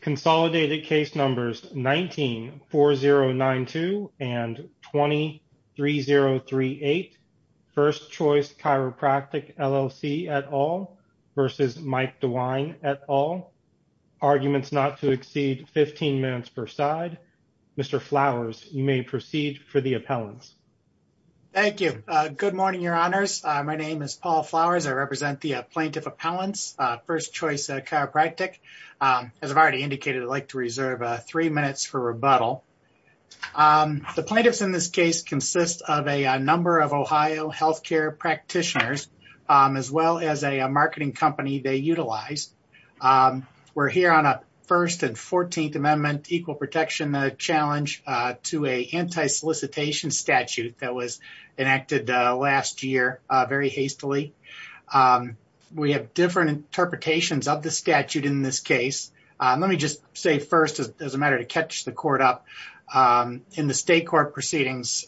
Consolidated case numbers 19-4092 and 20-3038. First Choice Chiropractic LLC et al. versus Mike DeWine et al. Arguments not to exceed 15 minutes per side. Mr. Flowers, you may proceed for the appellants. Thank you. Good morning, your honors. My name is Paul Flowers. I represent the indicated I'd like to reserve three minutes for rebuttal. The plaintiffs in this case consist of a number of Ohio healthcare practitioners as well as a marketing company they utilize. We're here on a first and 14th amendment equal protection challenge to a anti-solicitation statute that was enacted last year very hastily. We have different interpretations of the statute in this case. Let me just say first as a matter to catch the court up in the state court proceedings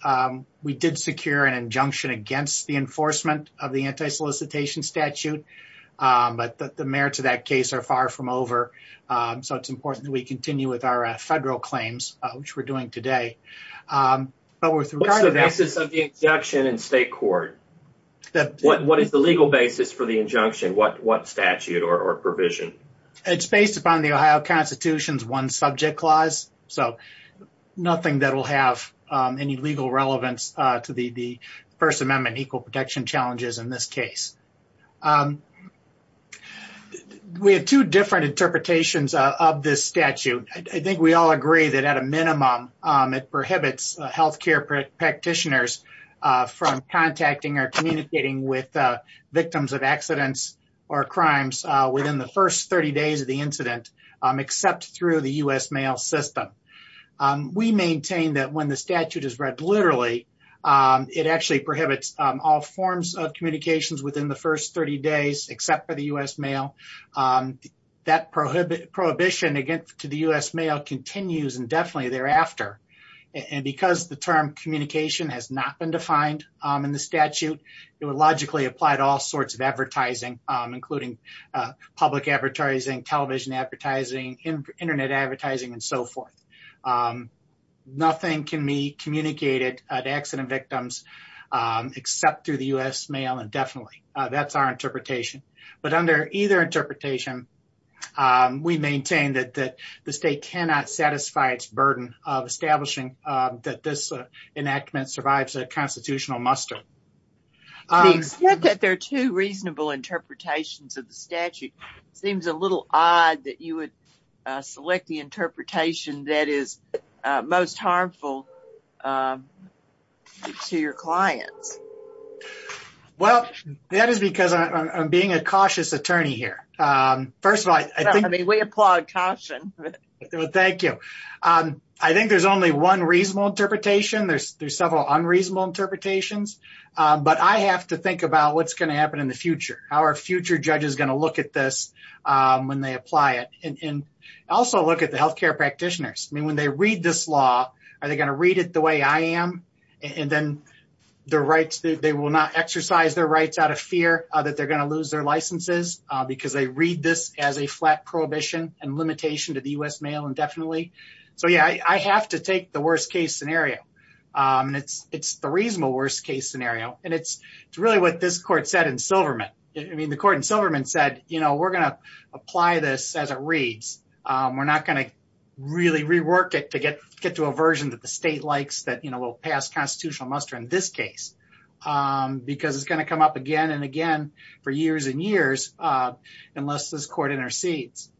we did secure an injunction against the enforcement of the anti-solicitation statute but the merits of that case are far from over so it's important that we continue with our federal claims which we're doing today. What's the basis of the injunction in state court? What is the legal basis for the injunction? What statute or provision? It's based upon the Ohio constitution's one subject clause so nothing that will have any legal relevance to the first amendment equal protection challenges in this case. We have two different interpretations of this statute. I think we all agree that at a minimum it prohibits health care practitioners from contacting or communicating with victims of accidents or crimes within the first 30 days of the incident except through the U.S. mail system. We maintain that when the statute is read literally it actually prohibits all forms of communications within the first 30 days except for the U.S. mail. That prohibition against the U.S. mail continues indefinitely thereafter and because the term communication has not been defined in the statute it would logically apply to all sorts of advertising including public advertising, television advertising, internet advertising and so forth. Nothing can be communicated to accident victims except through the U.S. mail indefinitely. That's our interpretation but under either interpretation we maintain that the state cannot satisfy its burden of establishing that this enactment survives a constitutional muster. The extent that there are two reasonable interpretations of the statute seems a little odd that you would select the interpretation that is most harmful to your clients. Well that is because I'm being a cautious attorney here. First of all, I mean we applaud caution. Thank you. I think there's only one reasonable interpretation. There's several unreasonable interpretations but I have to think about what's going to happen in the future. How are future judges going to look at this when they apply it and also look at the health care practitioners. I mean when they read this law are they going to read it the way I am and then the right they will not exercise their rights out of fear that they're going to lose their licenses because they read this as a flat prohibition and limitation to the U.S. mail indefinitely. So yeah I have to take the worst case scenario and it's the reasonable worst case scenario and it's really what this court said in Silverman. I mean the court in Silverman said you know we're going to apply this as it reads. We're not going to really rework it to get to a version that the because it's going to come up again and again for years and years unless this court intercedes.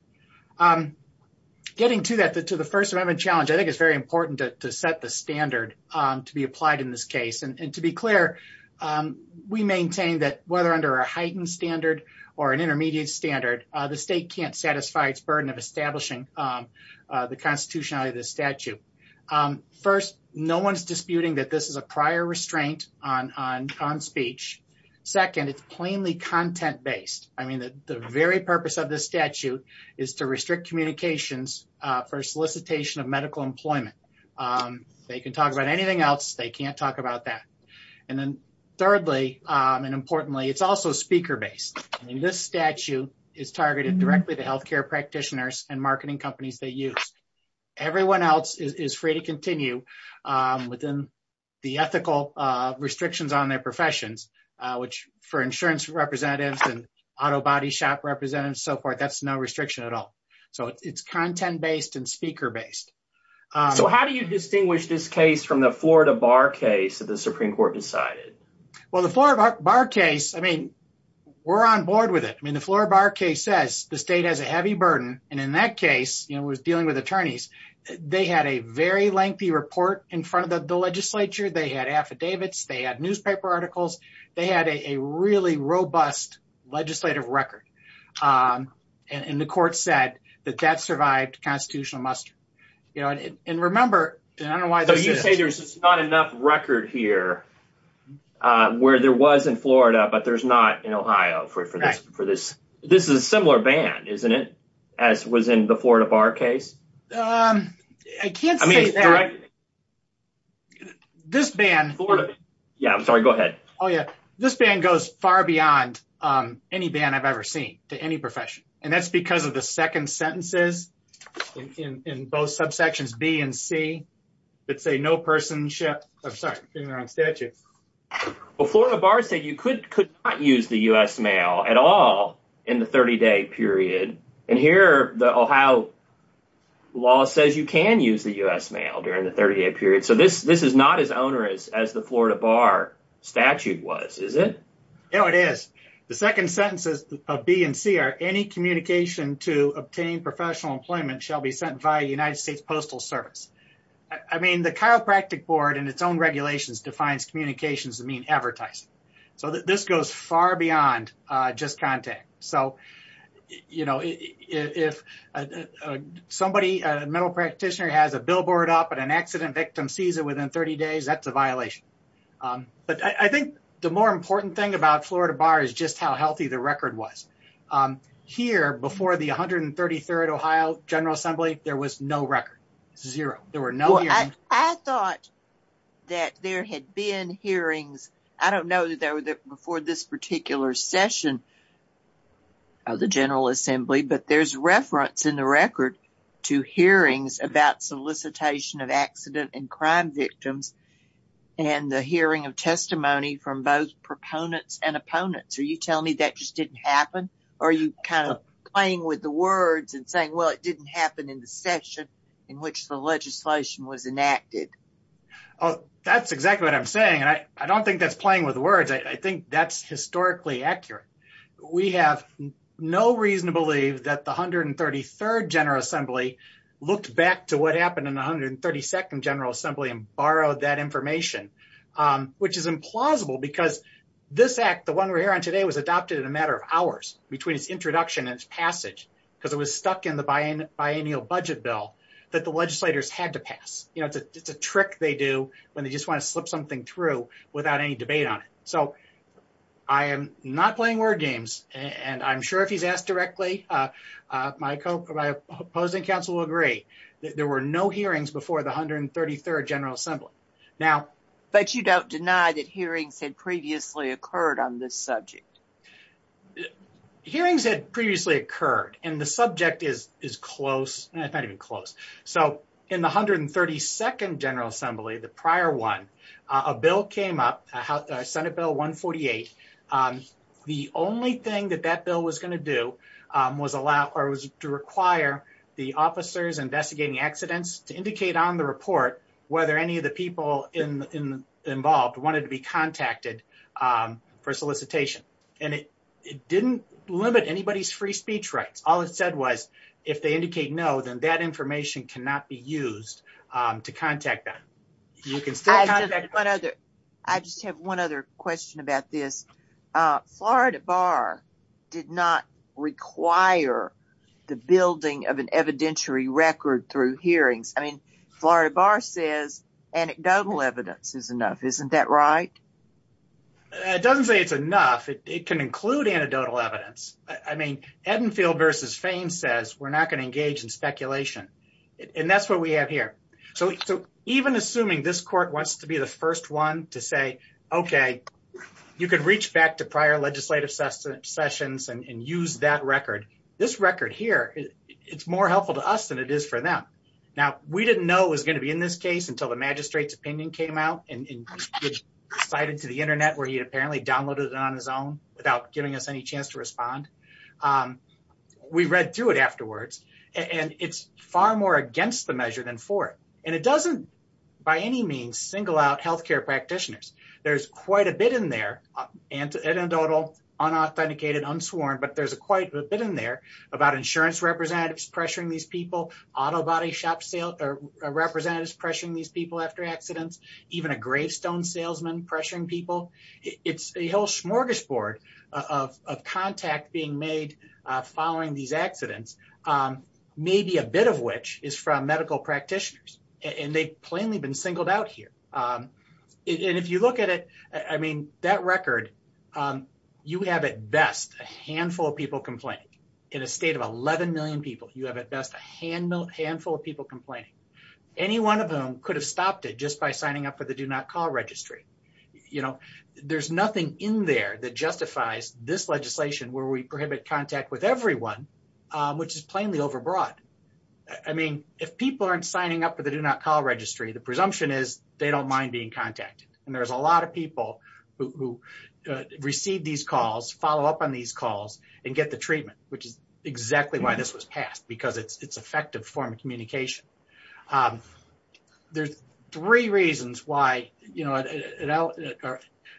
Getting to that to the first amendment challenge I think it's very important to set the standard to be applied in this case and to be clear we maintain that whether under a heightened standard or an intermediate standard the state can't satisfy its burden of establishing the constitutionality of the statute. First no one's disputing that this is a prior restraint on speech. Second it's plainly content-based. I mean the very purpose of this statute is to restrict communications for solicitation of medical employment. They can talk about anything else they can't talk about that. And then thirdly and importantly it's also speaker-based. I mean this statute is targeted directly to health care practitioners and marketing companies they use. Everyone else is free to continue within the ethical restrictions on their professions which for insurance representatives and auto body shop representatives so forth that's no restriction at all. So it's content-based and speaker-based. So how do you distinguish this case from the Florida Bar case that the Supreme Court decided? Well the Florida Bar case I mean we're on board with it. I mean the Florida Bar case says the state has a heavy burden and in that case you know it was dealing with attorneys. They had a very lengthy report in front of the legislature. They had affidavits. They had newspaper articles. They had a really robust legislative record and the court said that that survived constitutional muster. And remember I don't know why. So you say there's not enough record here where there was in Florida but there's not in Ohio for this. This is a similar ban isn't it as was in the Florida Bar case? I can't say that. This ban. Yeah I'm sorry go ahead. Oh yeah this ban goes far beyond any ban I've ever seen to any profession and that's because of the second sentences in both subsections B and C that say no person should. I'm sorry I'm getting the wrong statute. Well Florida Bar said you could not use the U.S. mail at all in the 30-day period and here the Ohio law says you can use the U.S. mail during the 30-day period. So this this is not as onerous as the Florida Bar statute was is it? No it is. The second sentences of B and C are any communication to obtain professional employment shall be sent via the United States Postal Service. I mean the chiropractic board and its own regulations defines communications to mean advertising. So this goes far beyond just contact. So you know if somebody a mental practitioner has a billboard up and an accident victim sees it within 30 days that's a violation. But I think the more important thing about Florida Bar is just how healthy the record was. Here before the 133rd Ohio General Assembly there was no record. Zero. There were no hearings. I thought that there had been hearings. I don't know that there were before this particular session of the General Assembly but there's reference in the record to hearings about solicitation of accident and crime victims and the hearing of testimony from both proponents and opponents. Are you telling me that just didn't happen? Or are you kind of playing with the words and saying it didn't happen in the session in which the legislation was enacted? Oh that's exactly what I'm saying. I don't think that's playing with words. I think that's historically accurate. We have no reason to believe that the 133rd General Assembly looked back to what happened in the 132nd General Assembly and borrowed that information. Which is implausible because this act the one we're hearing today was adopted in a matter of bi-annual budget bill that the legislators had to pass. You know it's a trick they do when they just want to slip something through without any debate on it. So I am not playing word games and I'm sure if he's asked directly my opposing council will agree that there were no hearings before the 133rd General Assembly. But you don't deny that hearings had previously occurred and the subject is close. It's not even close. So in the 132nd General Assembly, the prior one, a bill came up, Senate Bill 148. The only thing that that bill was going to do was allow or was to require the officers investigating accidents to indicate on the report whether any of the people involved wanted to be contacted for solicitation. And it didn't limit anybody's free speech rights. All it said was if they indicate no then that information cannot be used to contact them. You can still contact them. I just have one other question about this. Florida Bar did not require the building of an evidentiary record through hearings. I mean Florida Bar says anecdotal evidence is enough. Isn't that right? It doesn't say it's enough. It can include anecdotal evidence. I mean, Edenfield versus Fain says we're not going to engage in speculation. And that's what we have here. So even assuming this court wants to be the first one to say, okay, you could reach back to prior legislative sessions and use that record. This record here, it's more helpful to us than it is for them. Now we didn't know it was going to be in this case until the magistrate's opinion came out and it was cited to the internet where he apparently downloaded it on his own without giving us any chance to respond. We read through it afterwards and it's far more against the measure than for it. And it doesn't by any means single out healthcare practitioners. There's quite a bit in there, anecdotal, unauthenticated, unsworn, but there's quite a bit in there about insurance representatives pressuring these people, auto body shop sale, representatives pressuring these people after accidents, even a gravestone salesman pressuring people. It's a whole smorgasbord of contact being made following these accidents. Maybe a bit of which is from medical practitioners and they plainly been singled out here. And if you look at it, I mean, that record, you have at best a handful of people complaining in a state of 11 people. You have at best a handful of people complaining. Any one of them could have stopped it just by signing up for the do not call registry. There's nothing in there that justifies this legislation where we prohibit contact with everyone, which is plainly overbroad. I mean, if people aren't signing up for the do not call registry, the presumption is they don't mind being contacted. And there's a lot of people who receive these calls, follow up on these calls and get the treatment, which is exactly why this was passed, because it's effective form of communication. There's three reasons why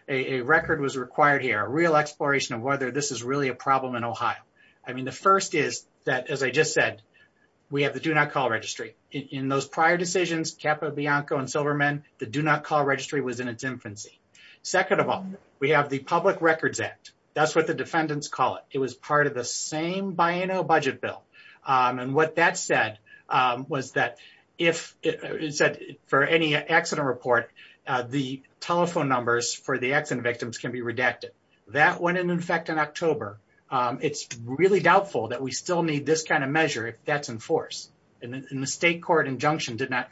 a record was required here, a real exploration of whether this is really a problem in Ohio. I mean, the first is that, as I just said, we have the do not call registry. In those prior decisions, Capa, Bianco and Silverman, the do not call registry was in its infancy. Second of all, we have the Public Records Act. That's what the defendants call it. It was part of the same Biano budget bill. And what that said was that if it said for any accident report, the telephone numbers for the accident victims can be redacted. That went into effect in October. It's really doubtful that we still need this kind of measure if that's in force. And the state court injunction did not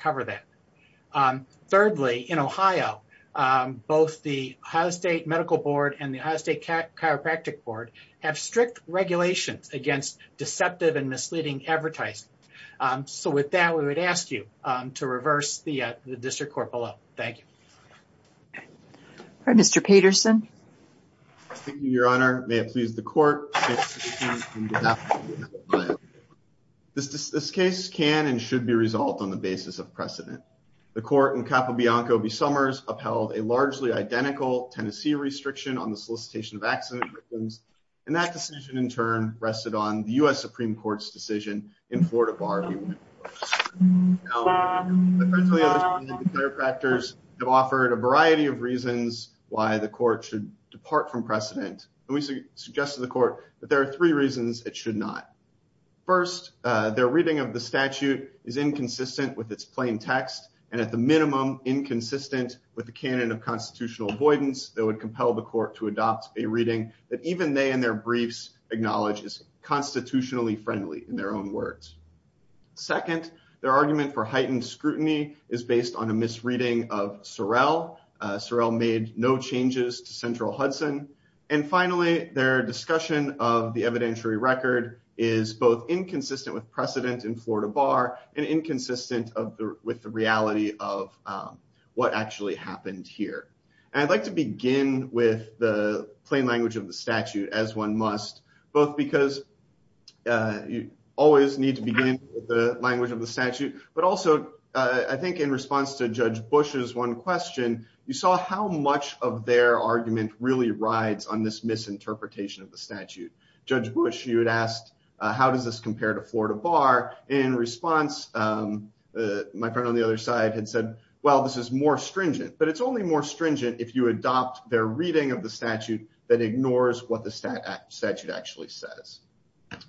have strict regulations against deceptive and misleading advertising. So with that, we would ask you to reverse the district court below. Thank you, Mr. Peterson. Your Honor, may it please the court. This case can and should be resolved on the basis of precedent. The court in Capa, Bianco, upheld a largely identical Tennessee restriction on the solicitation of accident victims. And that decision, in turn, rested on the U.S. Supreme Court's decision in Florida Bar Review. The chiropractors have offered a variety of reasons why the court should depart from precedent. And we suggest to the court that there are three reasons it should not. First, their reading of the statute is inconsistent with its plain text, and at the minimum, inconsistent with the canon of constitutional avoidance that would compel the court to adopt a reading that even they and their briefs acknowledge is constitutionally friendly in their own words. Second, their argument for heightened scrutiny is based on a misreading of Sorrell. Sorrell made no changes to Central Hudson. And finally, their discussion of the evidentiary record is both inconsistent with precedent in Florida Bar and inconsistent with the reality of what actually happened here. And I'd like to begin with the plain language of the statute, as one must, both because you always need to begin with the language of the statute, but also, I think, in response to Judge Bush's one question, you saw how much of their argument really rides on this misinterpretation of the statute. Judge Bush, you had asked, how does this compare to Florida Bar? In response, my friend on the other side had said, well, this is more stringent. But it's only more stringent if you adopt their reading of the statute that ignores what the statute actually says.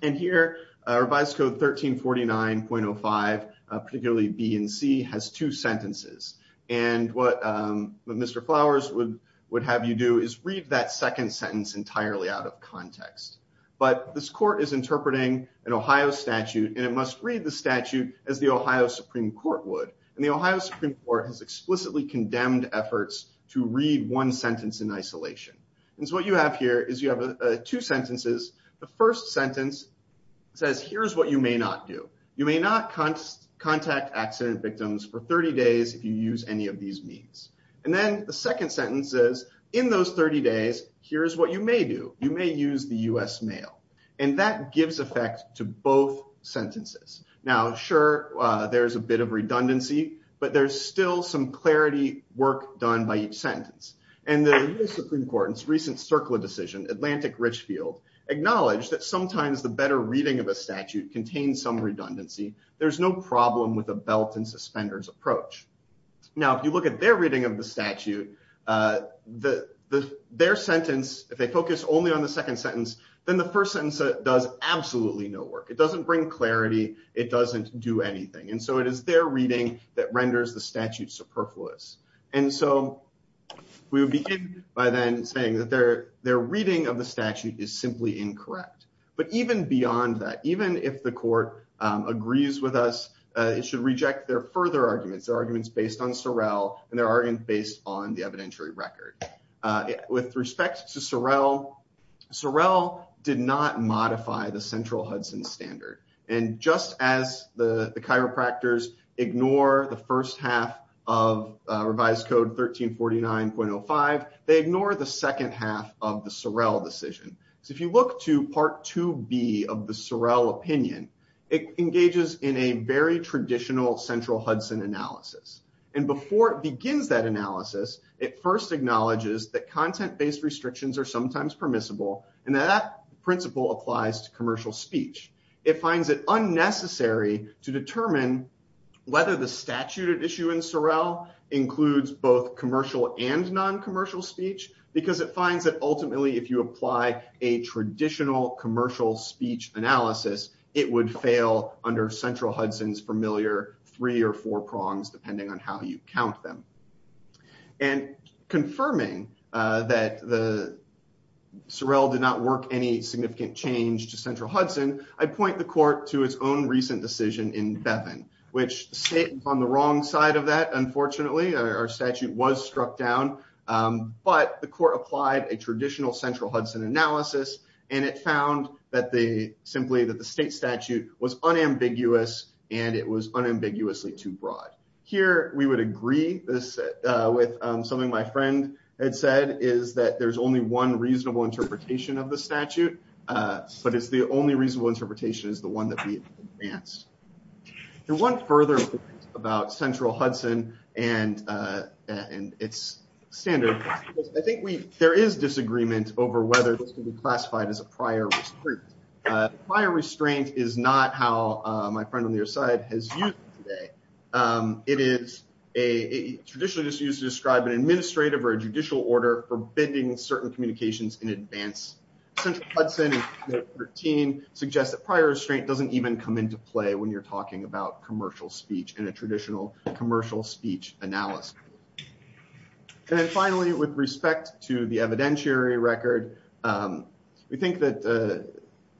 And here, Revised Code 1349.05, particularly B and C, has two sentences. And what Mr. Flowers would have you do is read that second sentence entirely out of context. But this court is must read the statute as the Ohio Supreme Court would. And the Ohio Supreme Court has explicitly condemned efforts to read one sentence in isolation. And so what you have here is you have two sentences. The first sentence says, here's what you may not do. You may not contact accident victims for 30 days if you use any of these means. And then the second sentence says, in those 30 days, here's what you may do. You may use the US mail. And that gives effect to both sentences. Now, sure, there's a bit of redundancy. But there's still some clarity work done by each sentence. And the US Supreme Court's recent CERCLA decision, Atlantic Richfield, acknowledged that sometimes the better reading of a statute contains some redundancy. There's no problem with a belt and suspenders approach. Now, if you look at their reading of the statute, their sentence, if they focus only on the second sentence, then the first sentence does absolutely no work. It doesn't bring clarity. It doesn't do anything. And so it is their reading that renders the statute superfluous. And so we would begin by then saying that their reading of the statute is simply incorrect. But even beyond that, even if the court agrees with us, it should reject their further arguments, their arguments based on Sorrell and their arguments based on the evidentiary record. With respect to Sorrell, Sorrell did not modify the central Hudson standard. And just as the chiropractors ignore the first half of revised code 1349.05, they ignore the second half of the Sorrell decision. So if you look to part 2B of the Sorrell opinion, it engages in a very traditional central Hudson analysis. And before it begins that analysis, it first acknowledges that content-based restrictions are sometimes permissible, and that that principle applies to commercial speech. It finds it unnecessary to determine whether the statute at issue in Sorrell includes both commercial and non-commercial speech, because it finds that ultimately, if you apply a traditional commercial speech analysis, it would fail under central Hudson's familiar three or four prongs, depending on how you count them. And confirming that the Sorrell did not work any significant change to central Hudson, I point the court to its own recent decision in Bevin, which sit on the wrong side of that, unfortunately, our statute was struck down. But the court applied a traditional central Hudson analysis, and it found that the simply that the state statute was unambiguous, and it was with something my friend had said, is that there's only one reasonable interpretation of the statute, but it's the only reasonable interpretation is the one that we advanced. And one further about central Hudson and its standard, I think there is disagreement over whether this could be classified as a prior restraint. Prior restraint is not how my friend on your side has used it today. It is traditionally just used to describe an administrative or a judicial order forbidding certain communications in advance. Central Hudson and 13 suggest that prior restraint doesn't even come into play when you're talking about commercial speech in a traditional commercial speech analysis. And then finally, with respect to the evidentiary record, we think that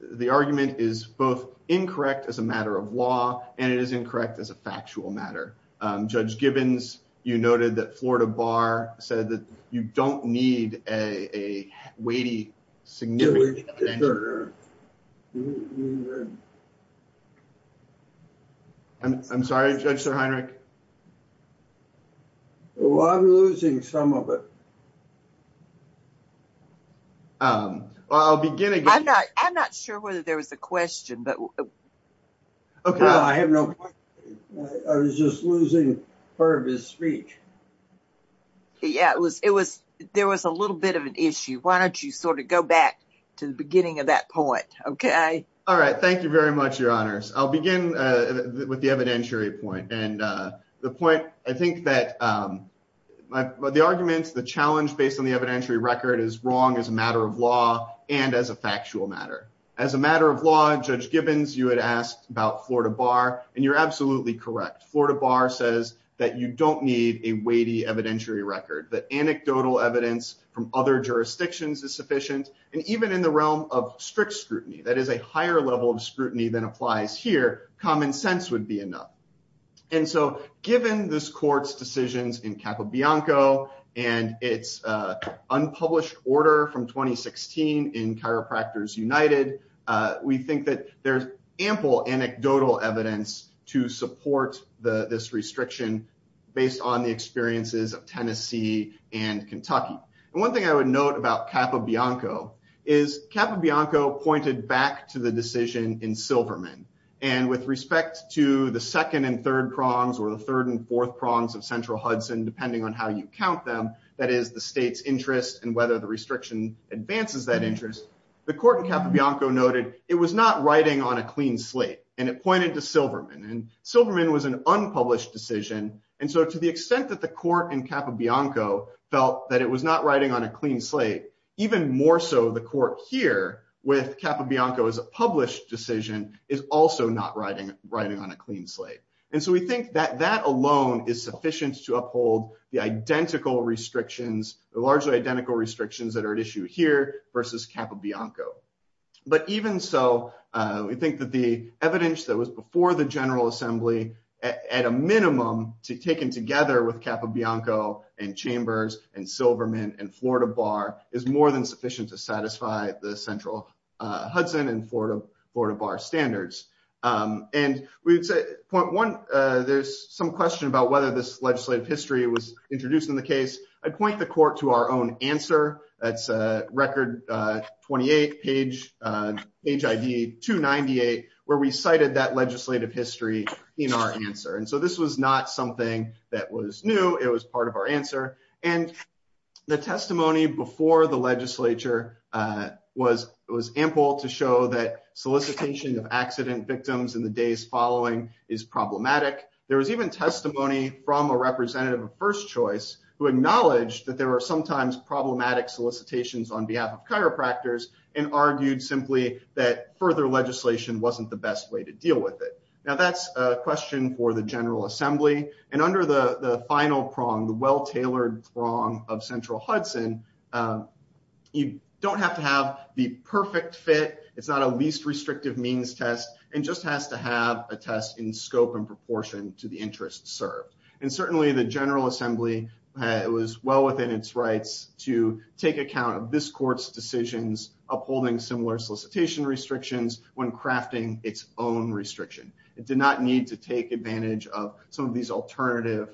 the argument is both incorrect as a matter of law, and it is incorrect as a factual matter. Judge Gibbons, you noted that Florida Bar said that you don't need a weighty significant. I'm sorry, Judge Heinrich. Well, I'm losing some of it. I'll begin again. I'm not sure whether there was a question, but okay, I have no. I was just losing part of his speech. Yeah, it was. It was. There was a little bit of an issue. Why don't you sort of go back to the beginning of that point? Okay. All right. Thank you very much, Your Honors. I'll begin with the evidentiary point, and the point I think that the arguments, the challenge based on the evidentiary record is wrong as a matter of law and as a factual matter. As a matter of law, Judge Gibbons, you had asked about Florida Bar, and you're absolutely correct. Florida Bar says that you don't need a weighty evidentiary record, that anecdotal evidence from other jurisdictions is sufficient, and even in the realm of strict scrutiny, that is a higher level of scrutiny than applies here, common sense would be enough. And so given this court's decisions in Capobianco and its unpublished order from 2016 in Chiropractors United, we think that there's ample anecdotal evidence to support this restriction based on the experiences of Tennessee and Kentucky. And one thing I would note about Capobianco is Capobianco pointed back to the decision in Silverman, and with respect to the second and third prongs or the third and fourth prongs of Central Hudson, depending on how you count them, that is the state's interest and whether the restriction advances that interest, the court in Capobianco noted it was not writing on a clean slate, and it pointed to Silverman, and Silverman was an unpublished decision, and so to the extent that the court in Capobianco felt that it was not writing on a clean slate, even more so the court here with Capobianco as a published decision is also not writing on a clean slate. And so we think that that alone is sufficient to uphold the identical restrictions, the largely identical restrictions that are at issue here versus Capobianco. But even so, we think that the evidence that was before the General Assembly at a minimum taken together with Capobianco and Chambers and Silverman and Florida Bar is more than sufficient to satisfy the Central Hudson and Florida Bar standards. And we would say, point one, there's some question about whether this legislative history was introduced in the 28 page, page ID 298 where we cited that legislative history in our answer. And so this was not something that was new, it was part of our answer. And the testimony before the legislature was ample to show that solicitation of accident victims in the days following is problematic. There was even testimony from a representative of first choice who acknowledged that there were sometimes problematic solicitations on behalf of chiropractors and argued simply that further legislation wasn't the best way to deal with it. Now that's a question for the General Assembly. And under the final prong, the well-tailored prong of Central Hudson, you don't have to have the perfect fit, it's not a least restrictive means test, it just has to have a test in scope and proportion to the interest served. And certainly the General to take account of this court's decisions upholding similar solicitation restrictions when crafting its own restriction. It did not need to take advantage of some of these alternative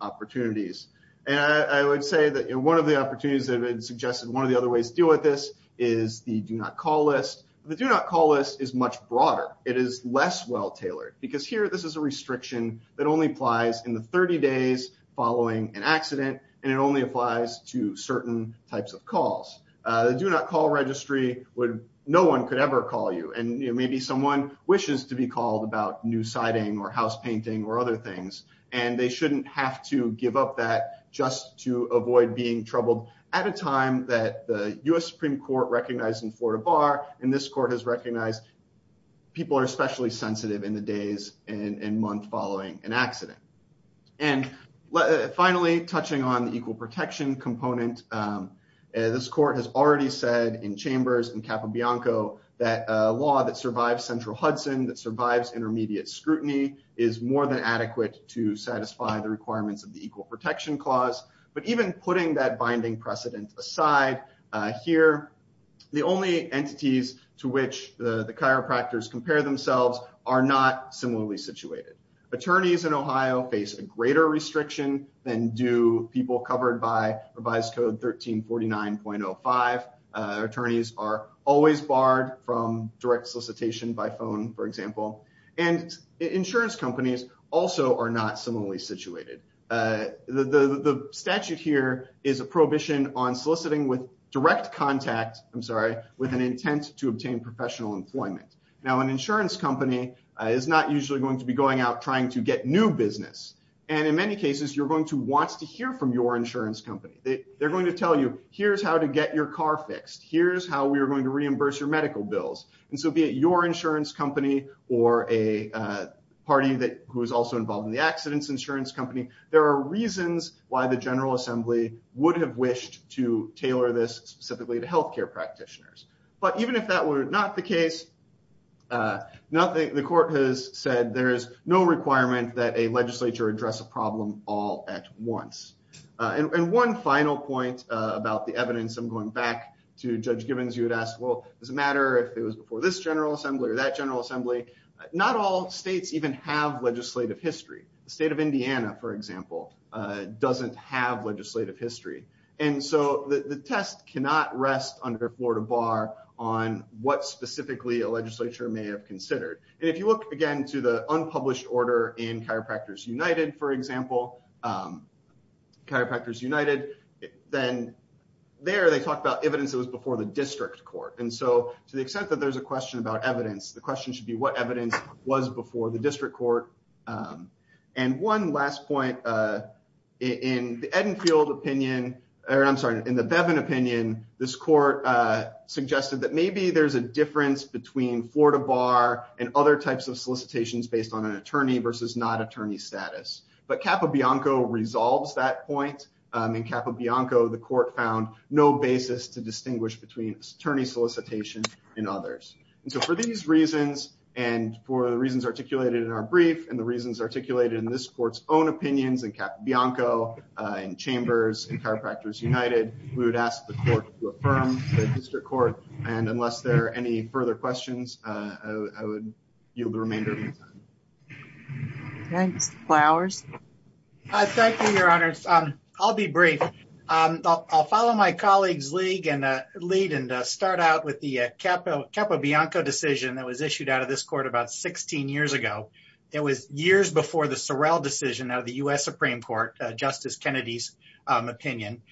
opportunities. And I would say that one of the opportunities that have been suggested, one of the other ways to deal with this is the do not call list. The do not call list is much broader. It is less well-tailored because here this is a restriction that only applies in the certain types of calls. The do not call registry, no one could ever call you. And maybe someone wishes to be called about new siding or house painting or other things, and they shouldn't have to give up that just to avoid being troubled at a time that the US Supreme Court recognized in Florida Bar and this court has recognized people are especially sensitive in the days and month following an accident. And finally, touching on the equal protection component, this court has already said in chambers in Capobianco that a law that survives central Hudson, that survives intermediate scrutiny is more than adequate to satisfy the requirements of the equal protection clause. But even putting that binding precedent aside here, the only entities to which the attorneys in Ohio face a greater restriction than do people covered by revised code 1349.05. Attorneys are always barred from direct solicitation by phone, for example. And insurance companies also are not similarly situated. The statute here is a prohibition on soliciting with direct contact, I'm sorry, with an intent to obtain professional employment. Now an insurance company is not usually going to be going out trying to get new business. And in many cases, you're going to want to hear from your insurance company. They're going to tell you, here's how to get your car fixed. Here's how we are going to reimburse your medical bills. And so be it your insurance company or a party that who is also involved in the accidents insurance company, there are reasons why the General Assembly would have wished to tailor this specifically to healthcare practitioners. But even if that were not the case, nothing, the court has said there is no requirement that a legislature address a problem all at once. And one final point about the evidence, I'm going back to Judge Gibbons, you would ask, well, does it matter if it was before this General Assembly or that General Assembly? Not all states even have legislative history. The state of Indiana, for example, doesn't have legislative history. And so the test cannot rest under Florida Bar on what specifically a legislature may have considered. And if you look again to the unpublished order in Chiropractors United, for example, Chiropractors United, then there they talk about evidence that was before the district court. And so to the extent that there's a question about evidence, the question should be what evidence was before the district court. And one last point in the Edenfield opinion, or I'm sorry, in the Bevin opinion, this court suggested that maybe there's a difference between Florida Bar and other types of solicitations based on an attorney versus not attorney status. But Capobianco resolves that point. In Capobianco, the court found no basis to distinguish between attorney solicitation and others. And so for these reasons, and for the reasons articulated in our brief, and the reasons articulated in this court's own opinions in Capobianco, in Chambers, in Chiropractors United, we would ask the court to affirm the district court. And unless there are any further questions, I would yield the remainder of my time. Thanks. Flowers? Thank you, Your Honors. I'll be brief. I'll follow my colleagues' lead and start out with the Capobianco decision that was issued out of this court about 16 years ago. It was years before the Sorrell decision out of the U.S. Supreme Court, Justice Kennedy's opinion.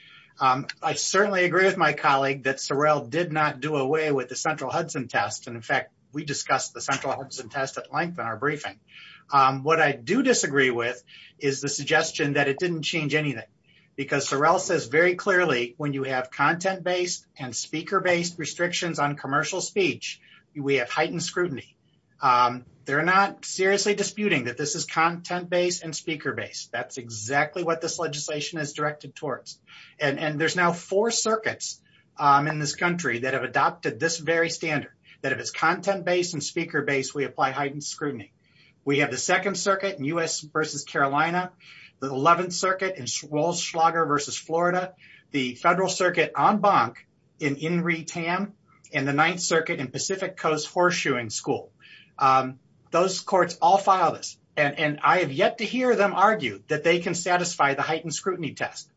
I certainly agree with my colleague that Sorrell did not do away with the central Hudson test. And in fact, we discussed the central Hudson test at length in our briefing. What I do disagree with is the suggestion that it didn't change anything. Because Sorrell says very clearly, when you have content-based and commercial speech, we have heightened scrutiny. They're not seriously disputing that this is content-based and speaker-based. That's exactly what this legislation is directed towards. And there's now four circuits in this country that have adopted this very standard, that if it's content-based and speaker-based, we apply heightened scrutiny. We have the Second Circuit in U.S. versus Carolina, the Eleventh Circuit in Pacific Coast Horseshoeing School. Those courts all filed this. And I have yet to hear them argue that they can satisfy the heightened scrutiny test.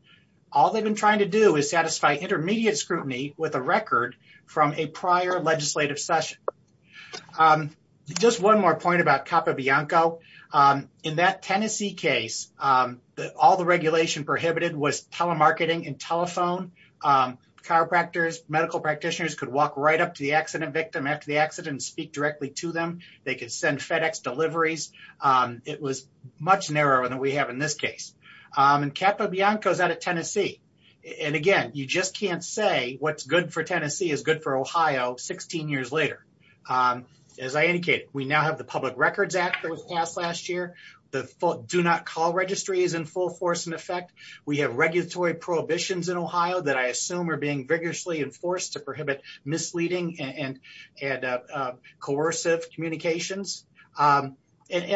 All they've been trying to do is satisfy intermediate scrutiny with a record from a prior legislative session. Just one more point about Capobianco. In that Tennessee case, all the regulation prohibited was telemarketing and after the accident, speak directly to them. They could send FedEx deliveries. It was much narrower than we have in this case. And Capobianco is out of Tennessee. And again, you just can't say what's good for Tennessee is good for Ohio 16 years later. As I indicated, we now have the Public Records Act that was passed last year. The Do Not Call Registry is in full force in effect. We have regulatory prohibitions in Ohio that I assume are being vigorously enforced to prohibit misleading and coercive communications. And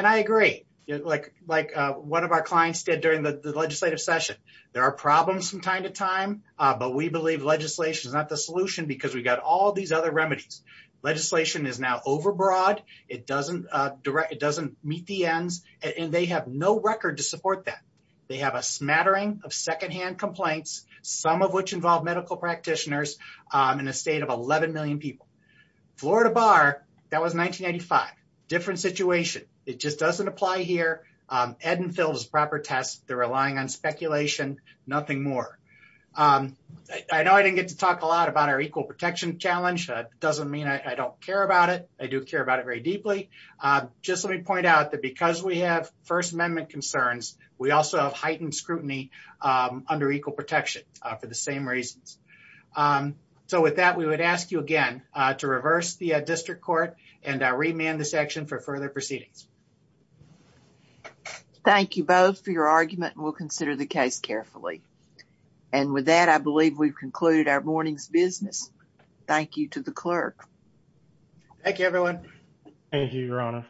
I agree, like one of our clients did during the legislative session. There are problems from time to time, but we believe legislation is not the solution because we've got all these other remedies. Legislation is now overbroad. It doesn't meet the ends. And they have no record to support that. They have a smattering of secondhand complaints, some of which involve medical practitioners in a state of 11 million people. Florida Bar, that was 1995. Different situation. It just doesn't apply here. Ed and Phil's proper test, they're relying on speculation, nothing more. I know I didn't get to talk a lot about our Equal Protection Challenge. That doesn't mean I don't care about it. I do care about it very deeply. Just let me point out that because we have First Amendment concerns, we also have under equal protection for the same reasons. So with that, we would ask you again to reverse the district court and remand the section for further proceedings. Thank you both for your argument and we'll consider the case carefully. And with that, I believe we've concluded our morning's business. Thank you to the clerk. Thank you, Your Honor.